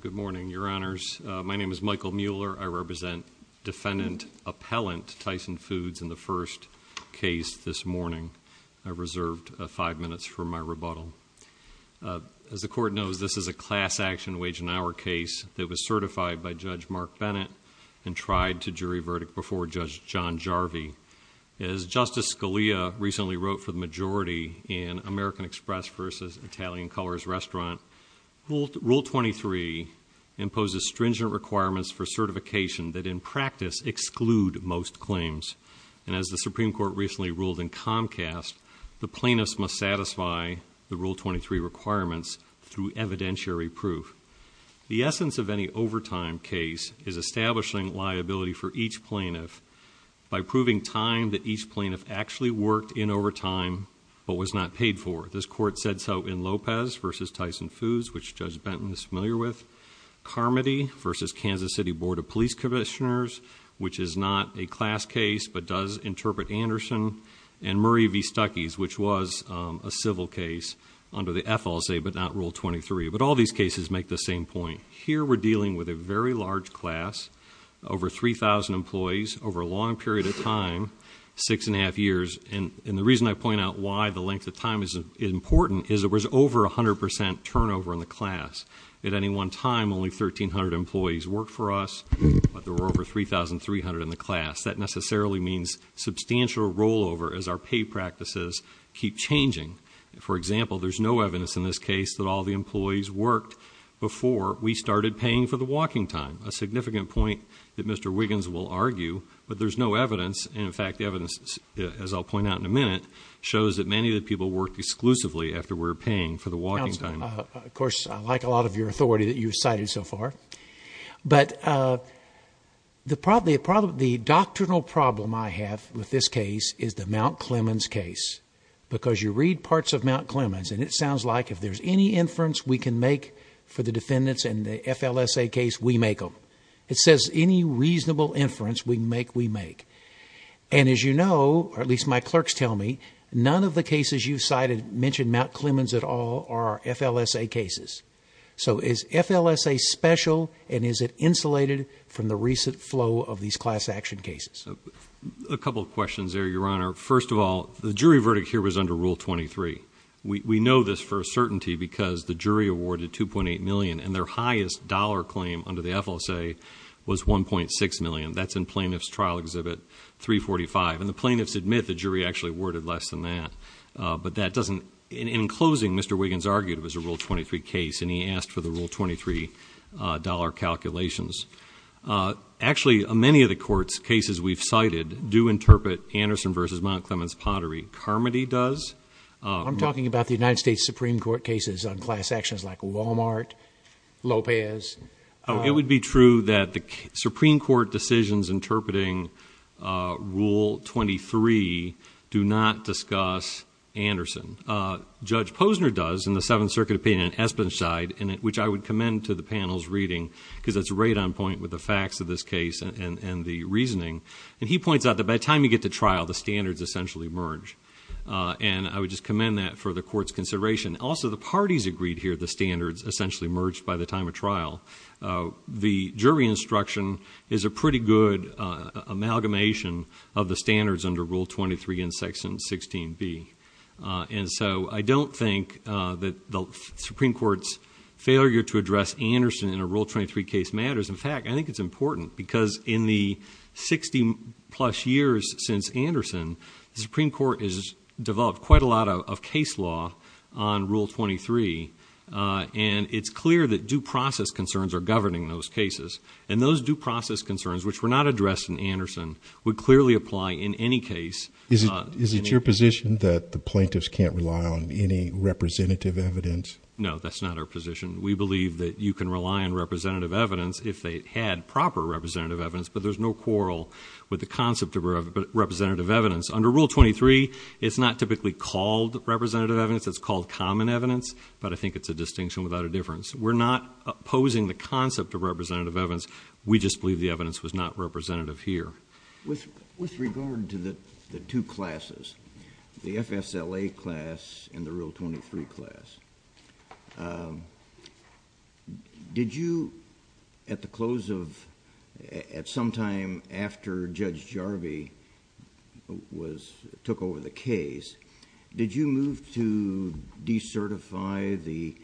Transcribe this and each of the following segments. Good morning, Your Honors. My name is Michael Mueller. I represent Defendant Appellant Tyson Foods in the first case this morning. I've reserved five minutes for my rebuttal. As the Court knows, this is a class action wage and hour case that was certified by Judge Mark Bennett and tried to jury verdict before Judge John Jarvie. As Justice Scalia recently wrote for the majority in American Express v. Italian Colors Restaurant, Rule 23 imposes stringent requirements for certification that in practice exclude most claims. And as the Supreme Court recently ruled in Comcast, the plaintiffs must satisfy the Rule 23 requirements through evidentiary proof. The essence of any overtime case is establishing liability for each plaintiff by proving time that each plaintiff actually worked in overtime but was not paid for. This Court said so in Lopez v. Tyson Foods, which Judge Benton is familiar with, Carmody v. Kansas City Board of Police Commissioners, which is not a class case but does interpret Anderson, and Murray v. Stuckey's, which was a civil case under the FLSA but not Rule 23. But all these cases make the same point. Here we're dealing with a very large class, over 3,000 employees, over a long period of time, six and a half years, and the reason I point out why the length of time is important is there was over 100% turnover in the class. At any one time, only 1,300 employees worked for us, but there were over 3,300 in the class. That necessarily means substantial rollover as our pay practices keep changing. For example, there's no evidence in this case that all the employees worked before we started paying for the walking time, a significant point that Mr. Wiggins will argue, but there's no evidence, and in fact, the evidence, as I'll point out in a minute, shows that many of the people worked exclusively after we were paying for the walking time. Counsel, of course, I like a lot of your authority that you've cited so far, but the doctrinal problem I have with this case is the Mount Clemens case, because you read parts of Mount Clemens, and it sounds like if there's any inference we can make for the defendants in the FLSA case, we make them. It says any reasonable inference we make, we make. And as you know, or at least my clerks tell me, none of the cases you've cited mention Mount Clemens at all are FLSA cases. So is FLSA special, and is it insulated from the recent flow of these class action cases? A couple of questions there, Your Honor. First of all, the jury verdict here was under Rule 23. We know this for a certainty because the jury awarded $2.8 million, and their highest dollar claim under the FLSA was $1.6 million. That's in Plaintiff's Trial Exhibit 345, and the plaintiffs admit the jury actually awarded less than that. But that doesn't, in closing, Mr. Wiggins argued it was a Rule 23 case, and he asked for the Rule 23 dollar calculations. Actually, many of the courts' cases we've cited do interpret Anderson v. Mount Clemens Pottery. Carmody does. I'm talking about the United States Supreme Court cases on class actions like Walmart, Lopez. Oh, it would be true that the Supreme Court decisions interpreting Rule 23 do not discuss Anderson. Judge Posner does in the Seventh Circuit opinion in Espenside, which I would commend to the panel's reading because it's right on point with the facts of this case and the reasoning. And he points out that by the time you get to trial, the standards essentially merge. And I would just commend that for the court's consideration. Also, the parties agreed here the standards essentially merged by the time of trial. The jury instruction is a pretty good amalgamation of the standards under Rule 23 in Section 16B. And so I don't think that the Supreme Court's failure to address Anderson in a Rule 23 case matters. In fact, I think it's important because in the 60-plus years since Anderson, the Supreme on Rule 23. And it's clear that due process concerns are governing those cases. And those due process concerns, which were not addressed in Anderson, would clearly apply in any case. Is it your position that the plaintiffs can't rely on any representative evidence? No, that's not our position. We believe that you can rely on representative evidence if they had proper representative evidence. But there's no quarrel with the concept of representative evidence. Under Rule 23, it's not typically called representative evidence. It's called common evidence. But I think it's a distinction without a difference. We're not opposing the concept of representative evidence. We just believe the evidence was not representative here. With regard to the two classes, the FSLA class and the Rule 23 class, did you at the close of, at some time after Judge Jarvie took over the case, did you move to decertify the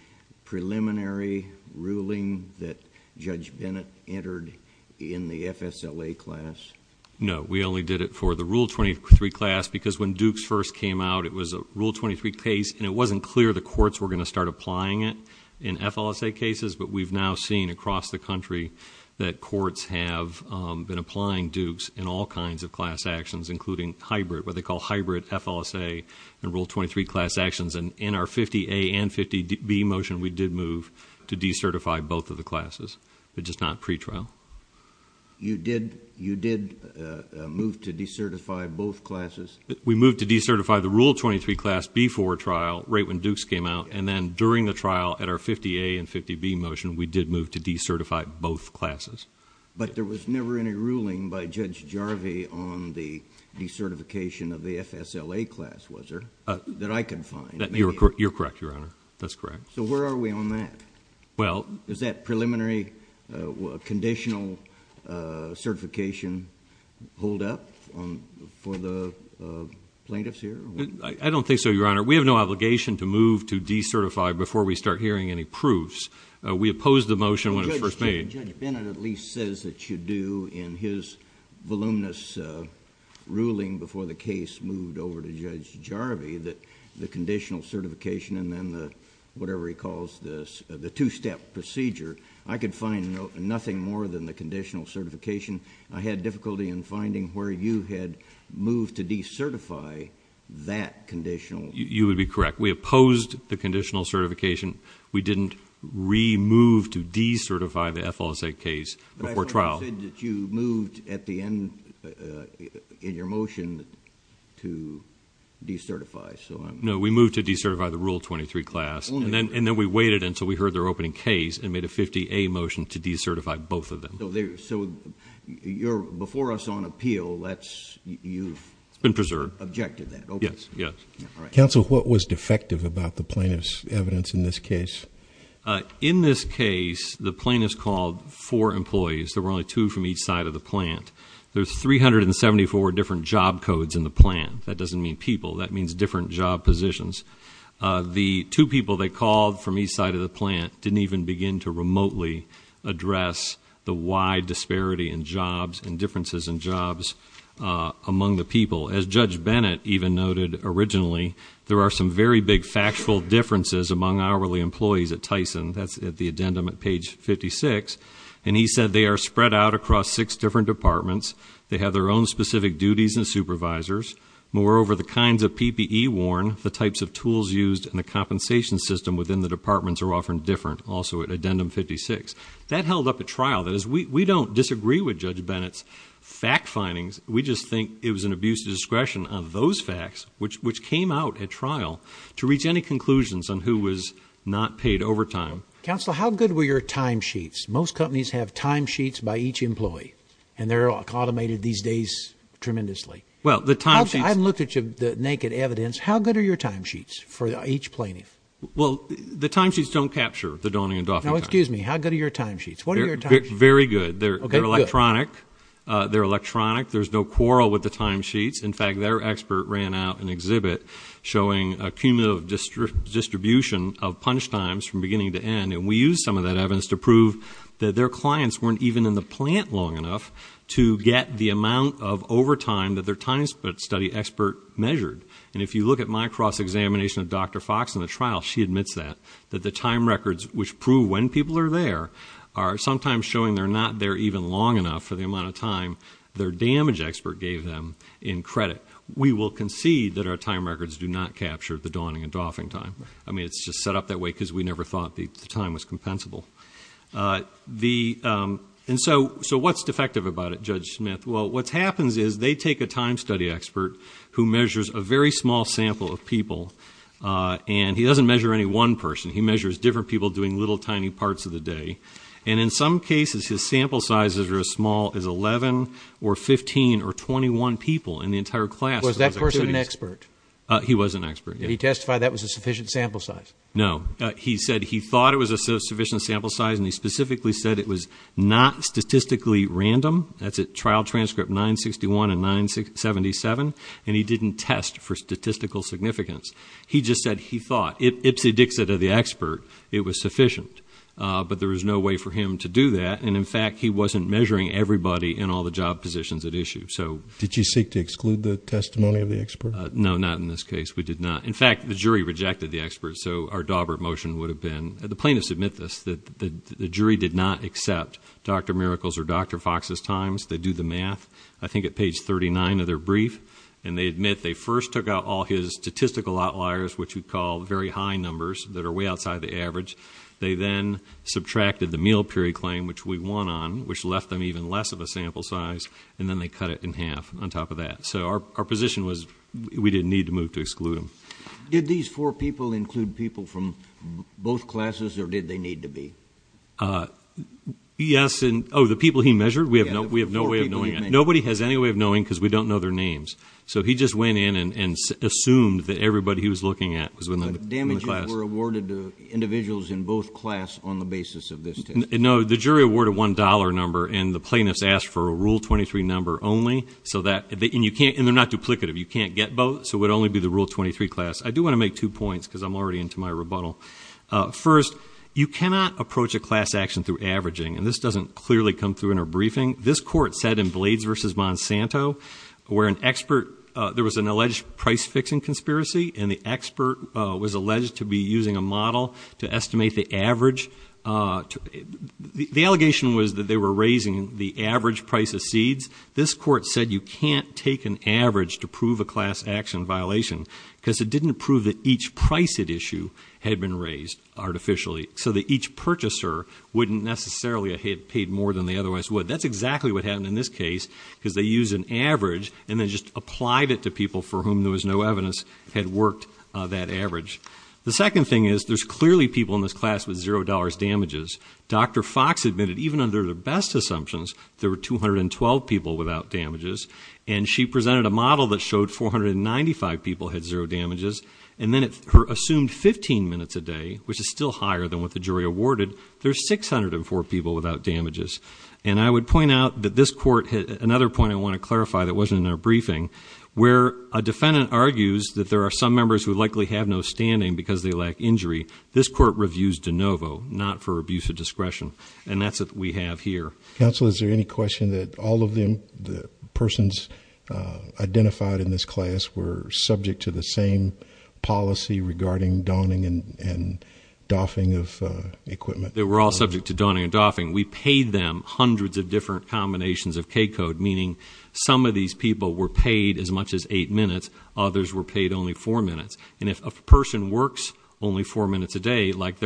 preliminary ruling that Judge Bennett entered in the FSLA class? No. We only did it for the Rule 23 class because when Dukes first came out, it was a Rule 23 case. And it wasn't clear the courts were going to start applying it in FLSA cases. But we've now seen across the country that courts have been applying Dukes in all kinds of class actions, including hybrid, what they call hybrid FLSA and Rule 23 class actions. And in our 50A and 50B motion, we did move to decertify both of the classes, but just not pretrial. You did move to decertify both classes? We moved to decertify the Rule 23 class before trial, right when Dukes came out. And then during the trial at our 50A and 50B motion, we did move to decertify both classes. But there was never any ruling by Judge Jarvie on the decertification of the FSLA class, was there, that I could find? You're correct, Your Honor. That's correct. So where are we on that? Well. Does that preliminary conditional certification hold up for the plaintiffs here? I don't think so, Your Honor. We have no obligation to move to decertify before we start hearing any proofs. We opposed the motion when it was first made. Judge Bennett at least says that you do in his voluminous ruling before the case moved over to Judge Jarvie that the conditional certification and then the, whatever he calls this, the two-step procedure, I could find nothing more than the conditional certification. I had difficulty in finding where you had moved to decertify that conditional. You would be correct. We opposed the conditional certification. We didn't remove to decertify the FLSA case before trial. But I thought you said that you moved at the end in your motion to decertify, so I'm. No, we moved to decertify the Rule 23 class. And then we waited until we heard their opening case and made a 50A motion to decertify both of them. So you're, before us on appeal, that's, you've. It's been preserved. Objected that. Yes. Yes. All right. Counsel, what was defective about the plaintiff's evidence in this case? In this case, the plaintiff's called four employees, there were only two from each side of the plant. There's 374 different job codes in the plant. That doesn't mean people, that means different job positions. The two people they called from each side of the plant didn't even begin to remotely address the wide disparity in jobs and differences in jobs among the people. As Judge Bennett even noted originally, there are some very big factual differences among hourly employees at Tyson. That's at the addendum at page 56. And he said they are spread out across six different departments. They have their own specific duties and supervisors. Moreover, the kinds of PPE worn, the types of tools used, and the compensation system within the departments are often different also at addendum 56. That held up at trial. That is, we don't disagree with Judge Bennett's fact findings. We just think it was an abuse of discretion on those facts, which came out at trial to reach any conclusions on who was not paid overtime. Counsel, how good were your timesheets? Most companies have timesheets by each employee. And they're automated these days tremendously. Well, the timesheets... I haven't looked at the naked evidence. How good are your timesheets for each plaintiff? Well, the timesheets don't capture the donning and doffing time. Now, excuse me. How good are your timesheets? What are your timesheets? Very good. They're electronic. They're electronic. There's no quarrel with the timesheets. In fact, their expert ran out an exhibit showing a cumulative distribution of punch times from beginning to end. And we used some of that evidence to prove that their clients weren't even in the plant long enough to get the amount of overtime that their time study expert measured. And if you look at my cross-examination of Dr. Fox in the trial, she admits that. That the time records which prove when people are there are sometimes showing they're not there even long enough for the amount of time their damage expert gave them in credit. We will concede that our time records do not capture the donning and doffing time. I mean, it's just set up that way because we never thought the time was compensable. And so what's defective about it, Judge Smith? Well, what happens is they take a time study expert who measures a very small sample of people. And he doesn't measure any one person. He measures different people doing little tiny parts of the day. And in some cases, his sample sizes are as small as 11 or 15 or 21 people in the entire class. Was that person an expert? He was an expert, yeah. He testified that was a sufficient sample size? No, he said he thought it was a sufficient sample size and he specifically said it was not statistically random. That's at trial transcript 961 and 977. And he didn't test for statistical significance. He just said he thought, if it's a dixit of the expert, it was sufficient. But there was no way for him to do that. And in fact, he wasn't measuring everybody in all the job positions at issue, so. Did you seek to exclude the testimony of the expert? No, not in this case. We did not. In fact, the jury rejected the expert. So our Daubert motion would have been, the plaintiffs admit this, that the jury did not accept Dr. Miracles or Dr. Fox's times. They do the math, I think at page 39 of their brief. And they admit they first took out all his statistical outliers, which we call very high numbers that are way outside the average. They then subtracted the meal period claim, which we won on, which left them even less of a sample size, and then they cut it in half on top of that. So our position was we didn't need to move to exclude him. Did these four people include people from both classes, or did they need to be? Yes, and the people he measured, we have no way of knowing that. Nobody has any way of knowing, because we don't know their names. So he just went in and assumed that everybody he was looking at was within the class. But damages were awarded to individuals in both class on the basis of this test. No, the jury awarded one dollar number, and the plaintiffs asked for a rule 23 number only, and they're not duplicative. You can't get both, so it would only be the rule 23 class. I do want to make two points, because I'm already into my rebuttal. First, you cannot approach a class action through averaging, and this doesn't clearly come through in our briefing. This court said in Blades versus Monsanto, where an expert, there was an alleged price-fixing conspiracy, and the expert was alleged to be using a model to estimate the average. The allegation was that they were raising the average price of seeds. This court said you can't take an average to prove a class action violation, because it didn't prove that each price at issue had been raised artificially. So that each purchaser wouldn't necessarily have paid more than they otherwise would. That's exactly what happened in this case, because they used an average and then just applied it to people for whom there was no evidence had worked that average. The second thing is, there's clearly people in this class with $0 damages. Dr. Fox admitted, even under the best assumptions, there were 212 people without damages. And she presented a model that showed 495 people had zero damages. And then her assumed 15 minutes a day, which is still higher than what the jury awarded, there's 604 people without damages. And I would point out that this court, another point I want to clarify that wasn't in our briefing, where a defendant argues that there are some members who likely have no standing because they lack injury. This court reviews de novo, not for abuse of discretion. And that's what we have here. Council, is there any question that all of the persons identified in this class were subject to the same policy regarding donning and doffing of equipment? They were all subject to donning and doffing. We paid them hundreds of different combinations of K code, meaning some of these people were paid as much as eight minutes, others were paid only four minutes. And if a person works only four minutes a day, like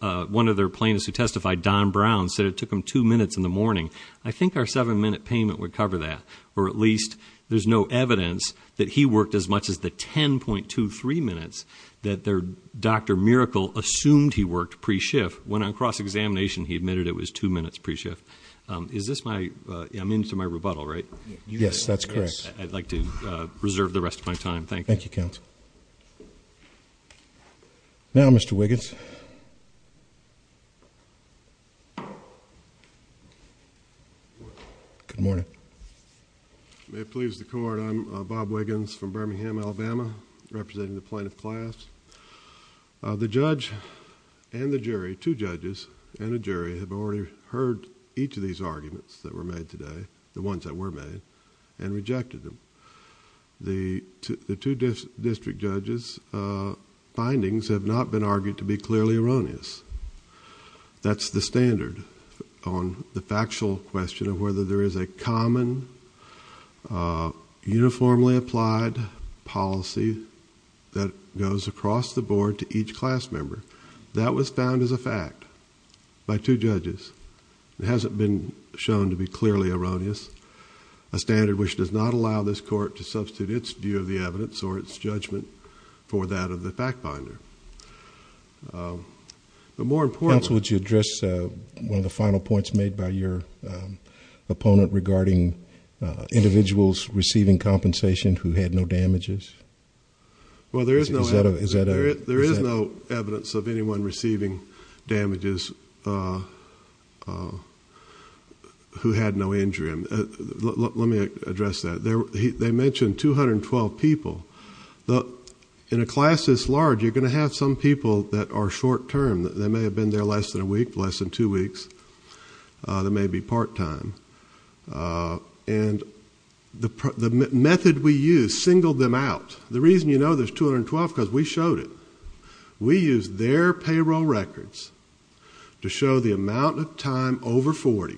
one of their plaintiffs who testified, Don Brown, said it took him two minutes in the morning, I think our seven minute payment would cover that. Or at least, there's no evidence that he worked as much as the 10.23 minutes that their Dr. Miracle assumed he worked pre-shift when on cross examination he admitted it was two minutes pre-shift. Is this my, I'm into my rebuttal, right? Yes, that's correct. Thank you, counsel. Now, Mr. Wiggins. Good morning. May it please the court, I'm Bob Wiggins from Birmingham, Alabama, representing the plaintiff class. The judge and the jury, two judges and a jury, have already heard each of these arguments that were made today, the ones that were made, and rejected them. The two district judges' findings have not been argued to be clearly erroneous. That's the standard on the factual question of whether there is a common, uniformly applied policy that goes across the board to each class member. That was found as a fact by two judges. It hasn't been shown to be clearly erroneous. A standard which does not allow this court to substitute its view of the evidence or its judgment for that of the fact finder. The more important- Counsel, would you address one of the final points made by your opponent regarding individuals receiving compensation who had no damages? Well, there is no evidence of anyone receiving damages who had no injury. Let me address that. They mentioned 212 people. In a class this large, you're going to have some people that are short term. They may have been there less than a week, less than two weeks. They may be part time. And the method we use singled them out. The reason you know there's 212, because we showed it. We used their payroll records to show the amount of time over 40.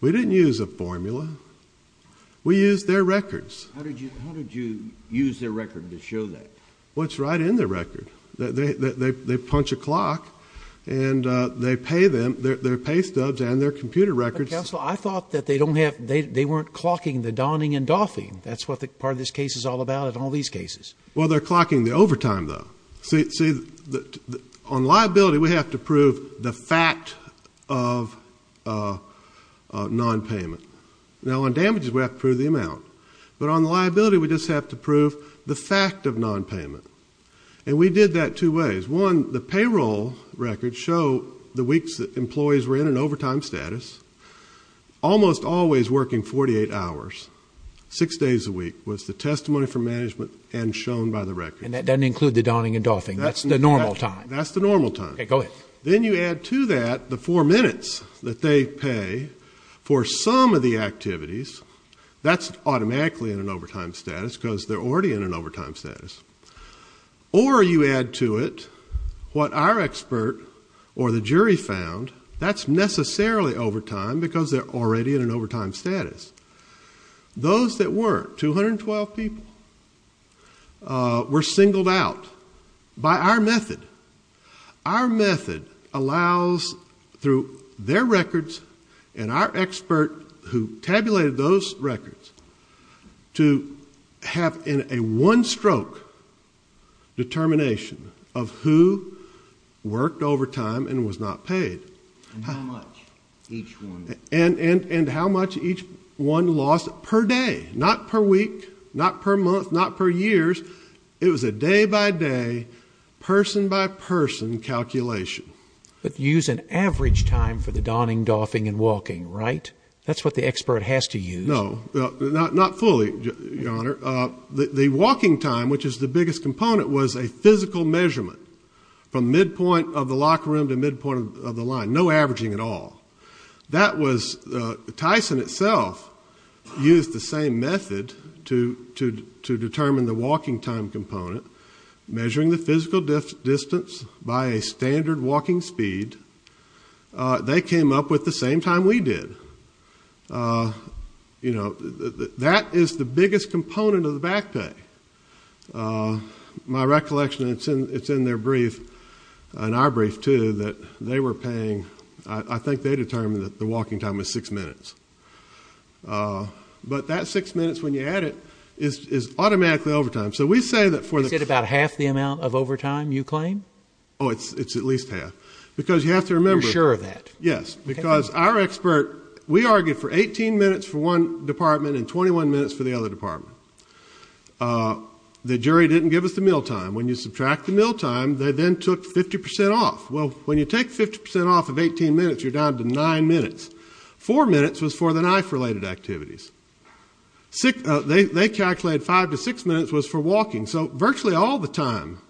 We didn't use a formula. We used their records. How did you use their record to show that? Well, it's right in their record. They punch a clock and they pay them, their pay stubs and their computer records. Counsel, I thought that they weren't clocking the donning and doffing. That's what part of this case is all about in all these cases. Well, they're clocking the overtime, though. See, on liability, we have to prove the fact of non-payment. Now, on damages, we have to prove the amount. But on liability, we just have to prove the fact of non-payment. And we did that two ways. One, the payroll records show the weeks that employees were in an overtime status. Almost always working 48 hours, six days a week, was the testimony from management and shown by the record. And that doesn't include the donning and doffing. That's the normal time. That's the normal time. Okay, go ahead. Then you add to that the four minutes that they pay for some of the activities. That's automatically in an overtime status because they're already in an overtime status. Or you add to it what our expert or the jury found. That's necessarily overtime because they're already in an overtime status. Those that weren't, 212 people, were singled out by our method. Our method allows, through their records and our expert who tabulated those records, to have in a one-stroke determination of who worked overtime and was not paid. And how much each one. And how much each one lost per day. Not per week. Not per month. Not per years. It was a day-by-day, person-by-person calculation. But you use an average time for the donning, doffing, and walking, right? That's what the expert has to use. No, not fully, Your Honor. The walking time, which is the biggest component, was a physical measurement from midpoint of the locker room to midpoint of the line. No averaging at all. That was, Tyson itself used the same method to determine the walking time component. Measuring the physical distance by a standard walking speed. They came up with the same time we did. You know, that is the biggest component of the back pay. My recollection, it's in their brief, and our brief too, that they were paying, I think they determined that the walking time was six minutes. But that six minutes, when you add it, is automatically overtime. So we say that for the- You said about half the amount of overtime, you claim? Oh, it's at least half. Because you have to remember- You're sure of that? Yes. Because our expert, we argued for 18 minutes for one department and 21 minutes for the other department. The jury didn't give us the meal time. When you subtract the meal time, they then took 50% off. When you take 50% off of 18 minutes, you're down to nine minutes. Four minutes was for the knife-related activities. They calculated five to six minutes was for walking. So virtually all the time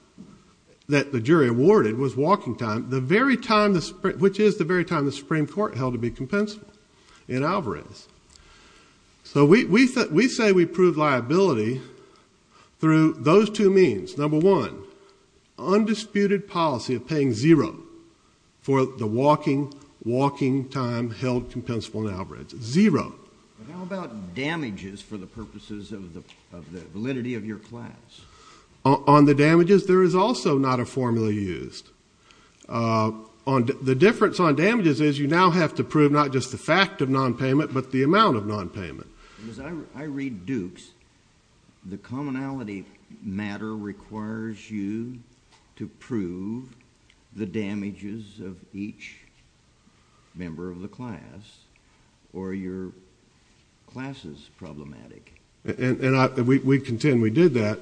that the jury awarded was walking time, which is the very time the Supreme Court held to be compensable in Alvarez. So we say we proved liability through those two means. Number one, undisputed policy of paying zero for the walking time held compensable in Alvarez. Zero. But how about damages for the purposes of the validity of your class? On the damages, there is also not a formula used. The difference on damages is you now have to prove not just the fact of nonpayment, but the amount of nonpayment. I read Dukes. The commonality matter requires you to prove the damages of each member of the class or your class is problematic. We contend we did that.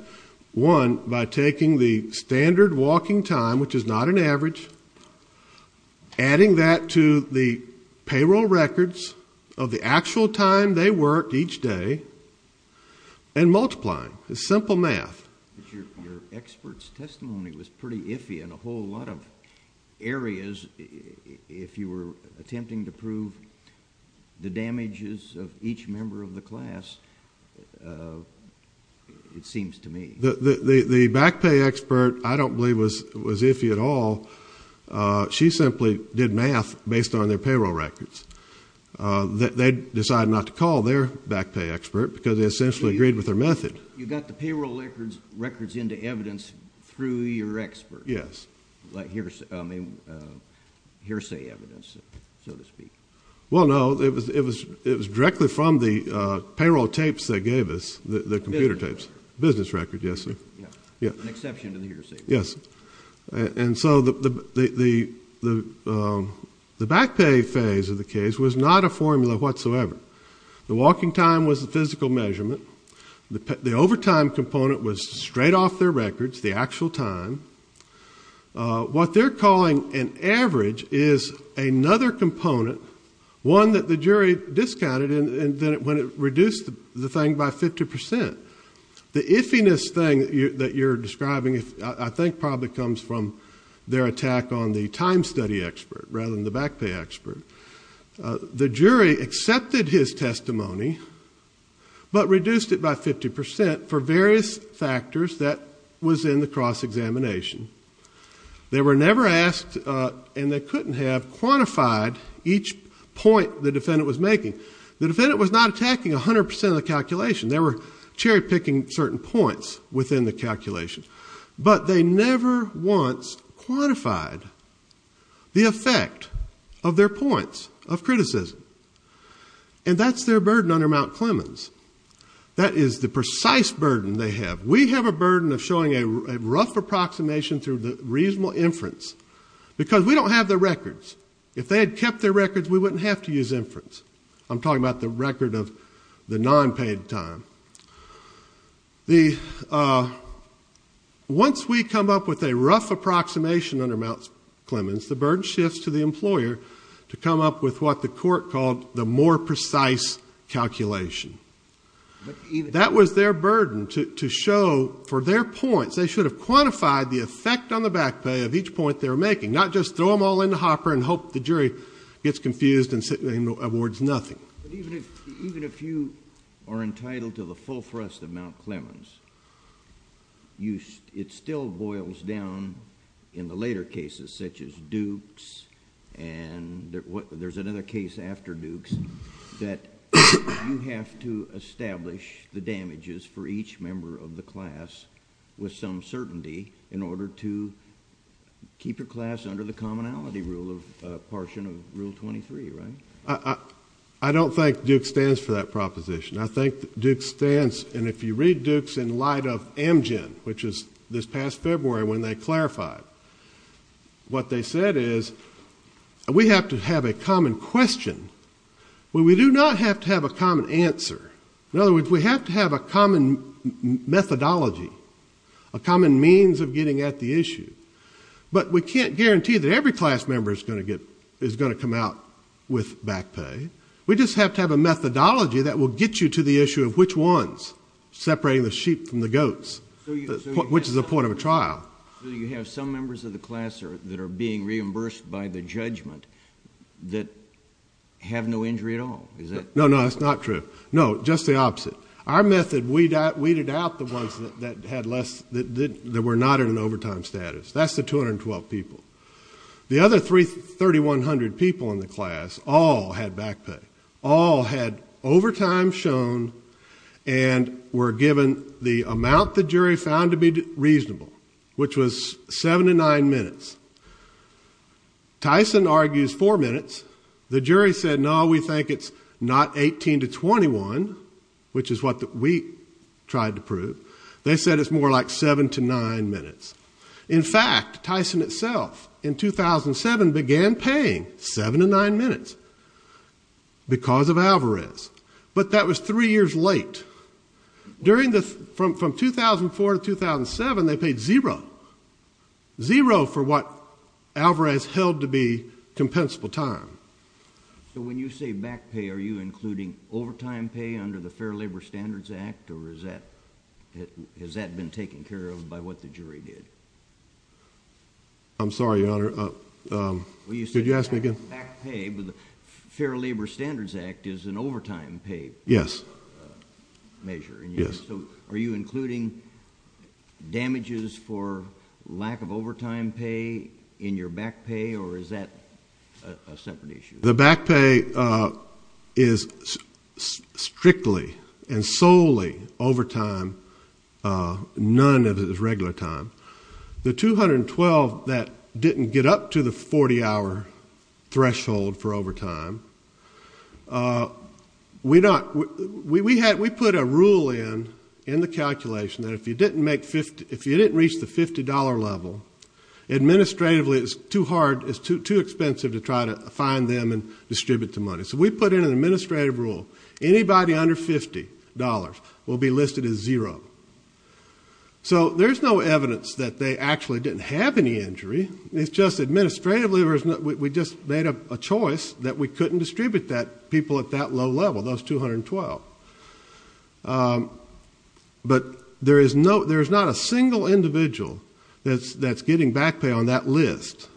One, by taking the standard walking time, which is not an average, and adding that to the payroll records of the actual time they worked each day and multiplying. It's simple math. But your expert's testimony was pretty iffy in a whole lot of areas if you were attempting to prove the damages of each member of the class, it seems to me. The back pay expert, I don't believe was iffy at all. She simply did math based on their payroll records. They decided not to call their back pay expert because they essentially agreed with their method. You got the payroll records into evidence through your expert? Yes. Like hearsay evidence, so to speak? Well, no. It was directly from the payroll tapes they gave us, the computer tapes. Business record, yes. An exception to the hearsay. Yes. And so the back pay phase of the case was not a formula whatsoever. The walking time was the physical measurement. The overtime component was straight off their records, the actual time. What they're calling an average is another component, one that the jury discounted when it reduced the thing by 50%. The iffiness thing that you're describing, I think, probably comes from their attack on the time study expert rather than the back pay expert. The jury accepted his testimony but reduced it by 50% for various factors that was in the cross-examination. They were never asked, and they couldn't have, quantified each point the defendant was making. The defendant was not attacking 100% of the calculation. They were cherry-picking certain points within the calculation. But they never once quantified the effect of their points of criticism. And that's their burden under Mount Clemens. That is the precise burden they have. We have a burden of showing a rough approximation through the reasonable inference because we don't have their records. If they had kept their records, we wouldn't have to use inference. I'm talking about the record of the non-paid time. Once we come up with a rough approximation under Mount Clemens, the burden shifts to the employer to come up with what the court called the more precise calculation. That was their burden to show for their points, they should have quantified the effect on the back pay of each point they were making, not just throw them all in the hopper and hope the jury gets confused and awards nothing. But even if you are entitled to the full thrust of Mount Clemens, it still boils down in the later cases such as Dukes and there's another case after Dukes that you have to establish the damages for each member of the class with some certainty in order to keep your class under the commonality rule, a portion of Rule 23, right? I don't think Dukes stands for that proposition. I think Dukes stands, and if you read Dukes in light of Amgen, which is this past February when they clarified, what they said is we have to have a common question. Well, we do not have to have a common answer. In other words, we have to have a common methodology, a common means of getting at the issue. But we can't guarantee that every class member is going to come out with back pay. We just have to have a methodology that will get you to the issue of which ones, separating the sheep from the goats, which is the point of a trial. So you have some members of the class that are being reimbursed by the judgment that have no injury at all, is that? No, no, that's not true. No, just the opposite. Our method weeded out the ones that had less, that were not in an overtime status. That's the 212 people. The other 3,100 people in the class all had back pay, all had overtime shown and were given the amount the jury found to be reasonable, which was seven to nine minutes. Tyson argues four minutes. The jury said, no, we think it's not 18 to 21, which is what we tried to prove. They said it's more like seven to nine minutes. In fact, Tyson itself in 2007 began paying seven to nine minutes because of Alvarez. But that was three years late. During the, from 2004 to 2007, they paid zero. Zero for what Alvarez held to be compensable time. So when you say back pay, are you including overtime pay under the Fair Labor Standards Act or is that, has that been taken care of by what the jury did? I'm sorry, Your Honor. Well, you said back pay, but the Fair Labor Standards Act is an overtime pay. Yes. Measure. Yes. So are you including damages for lack of overtime pay in your back pay, or is that a separate issue? The back pay is strictly and solely overtime. None of it is regular time. The $212 that didn't get up to the 40-hour threshold for overtime, we not, we had, we put a rule in, in the calculation that if you didn't make 50, if you didn't reach the $50 level, administratively it's too hard, it's too expensive to try to find them and distribute the money. So we put in an administrative rule. Anybody under $50 will be listed as zero. So there's no evidence that they actually didn't have any injury. It's just administratively, we just made a choice that we couldn't distribute that, people at that low level, those $212. But there is no, there is not a single individual that's, that's getting back pay on that list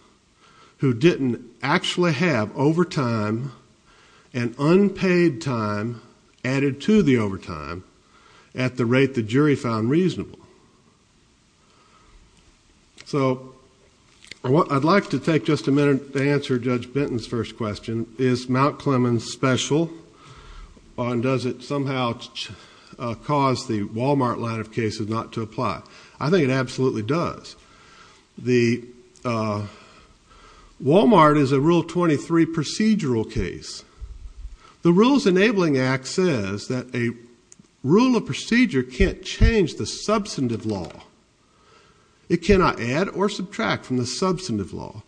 who didn't actually have overtime and unpaid time added to the overtime at the rate the jury found reasonable. So I'd like to take just a minute to answer Judge Benton's first question. Is Mount Clemens special and does it somehow cause the Walmart line of cases not to apply? I think it absolutely does. The Walmart is a Rule 23 procedural case. The Rules Enabling Act says that a rule of procedure can't change the substantive law. It cannot add or subtract from the substantive law.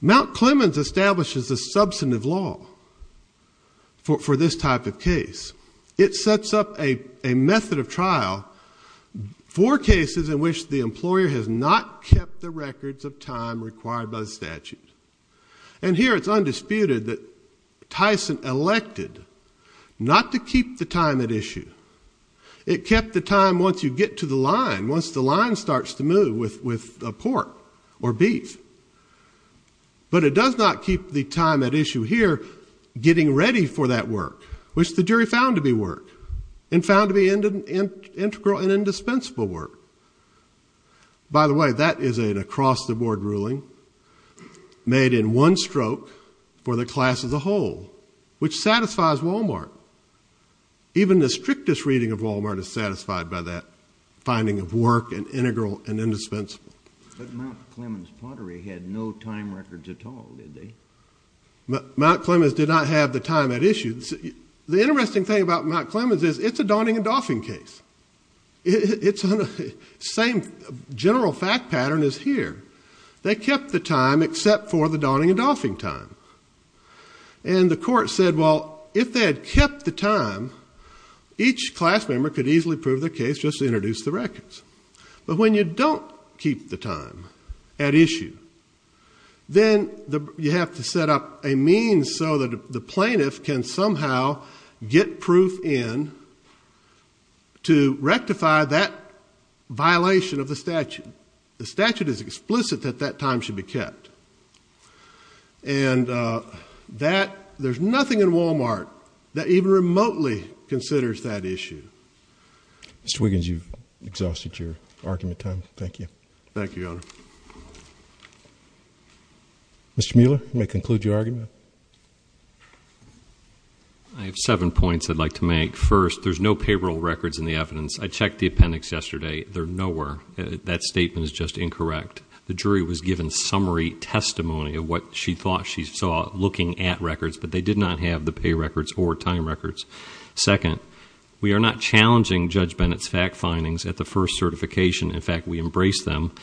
Mount Clemens establishes a substantive law for this type of case. It sets up a method of trial for cases in which the employer has not kept the records of time required by the statute. And here it's undisputed that Tyson elected not to keep the time at issue. It kept the time once you get to the line, once the line starts to move with pork or beef. But it does not keep the time at issue here getting ready for that work, which the jury found to be work and found to be integral and indispensable work. By the way, that is an across-the-board ruling made in one stroke for the class as a whole, which satisfies Walmart. Even the strictest reading of Walmart is satisfied by that finding of work and integral and indispensable. But Mount Clemens Pottery had no time records at all, did they? Mount Clemens did not have the time at issue. The interesting thing about Mount Clemens is it's a Donning and Dolphin case. Same general fact pattern is here. They kept the time except for the Donning and Dolphin time. And the court said, well, if they had kept the time, each class member could easily prove their case just to introduce the records. But when you don't keep the time at issue, then you have to set up a means so that the plaintiff can somehow get proof in to rectify that violation of the statute. The statute is explicit that that time should be kept. And there's nothing in Walmart that even remotely considers that issue. Mr. Wiggins, you've exhausted your argument time. Thank you. Thank you, Your Honor. Mr. Mueller, you may conclude your argument. I have seven points I'd like to make. First, there's no payroll records in the evidence. I checked the appendix yesterday. They're nowhere. That statement is just incorrect. The jury was given summary testimony of what she thought she saw looking at records, but they did not have the pay records or time records. Second, we are not challenging Judge Bennett's fact findings at the first certification. In fact, we embrace them.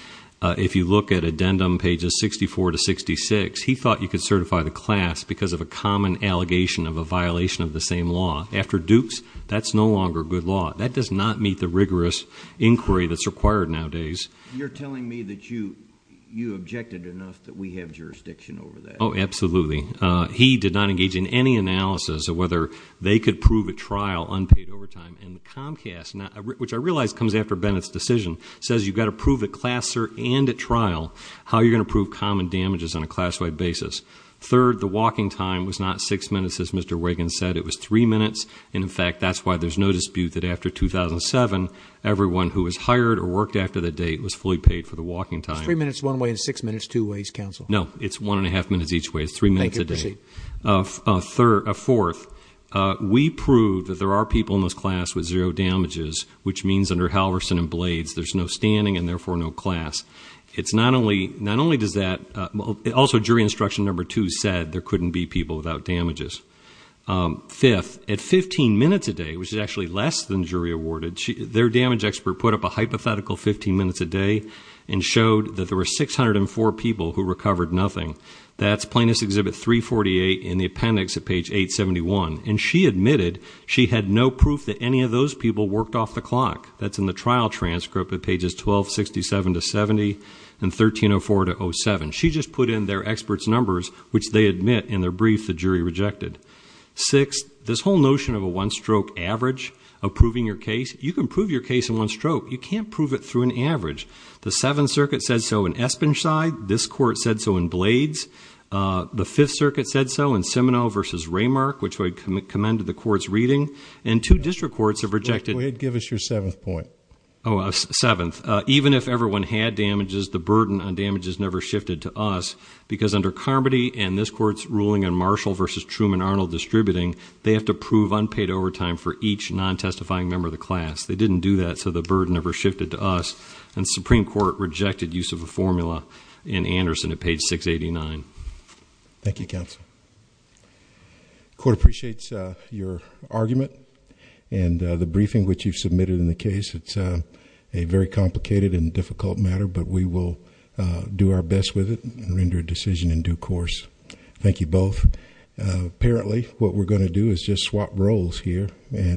If you look at addendum pages 64 to 66, he thought you could certify the class because of a common allegation of a violation of the same law. After Dukes, that's no longer good law. That does not meet the rigorous inquiry that's required nowadays. You're telling me that you objected enough that we have jurisdiction over that? Oh, absolutely. He did not engage in any analysis of whether they could prove at trial unpaid overtime. And the Comcast, which I realize comes after Bennett's decision, says you've got to prove at class cert and at trial how you're going to prove common damages on a class-wide basis. Third, the walking time was not six minutes, as Mr. Wiggins said. It was three minutes. And in fact, that's why there's no dispute that after 2007, everyone who was hired or worked after that date was fully paid for the walking time. It's three minutes one way and six minutes two ways, counsel. No, it's one and a half minutes each way. It's three minutes a day. Fourth, we proved that there are people in this class with zero damages, which means under Halverson and Blades, there's no standing and therefore no class. Also, jury instruction number two said there couldn't be people without damages. Fifth, at 15 minutes a day, which is actually less than jury awarded, their damage expert put up a hypothetical 15 minutes a day and showed that there were 604 people who recovered nothing. That's Plaintiff's Exhibit 348 in the appendix at page 871. And she admitted she had no proof that any of those people worked off the clock. That's in the trial transcript at pages 1267 to 70 and 1304 to 07. She just put in their experts' numbers, which they admit in their brief the jury rejected. Six, this whole notion of a one-stroke average of proving your case, you can prove your case in one stroke. You can't prove it through an average. The Seventh Circuit said so in Espenside. This court said so in Blades. The Fifth Circuit said so in Seminole versus Raymark, which I commend to the court's reading. And two district courts have rejected- Go ahead, give us your seventh point. Oh, seventh. Even if everyone had damages, the burden on damages never shifted to us because under Carmody and this court's ruling on Marshall versus Truman-Arnold distributing, they have to prove unpaid overtime for each non-testifying member of the class. They didn't do that, so the burden never shifted to us. And the Supreme Court rejected use of a formula. In Anderson at page 689. Thank you, counsel. Court appreciates your argument and the briefing which you've submitted in the case. It's a very complicated and difficult matter, but we will do our best with it and render a decision in due course. Thank you both. Apparently, what we're going to do is just swap roles here.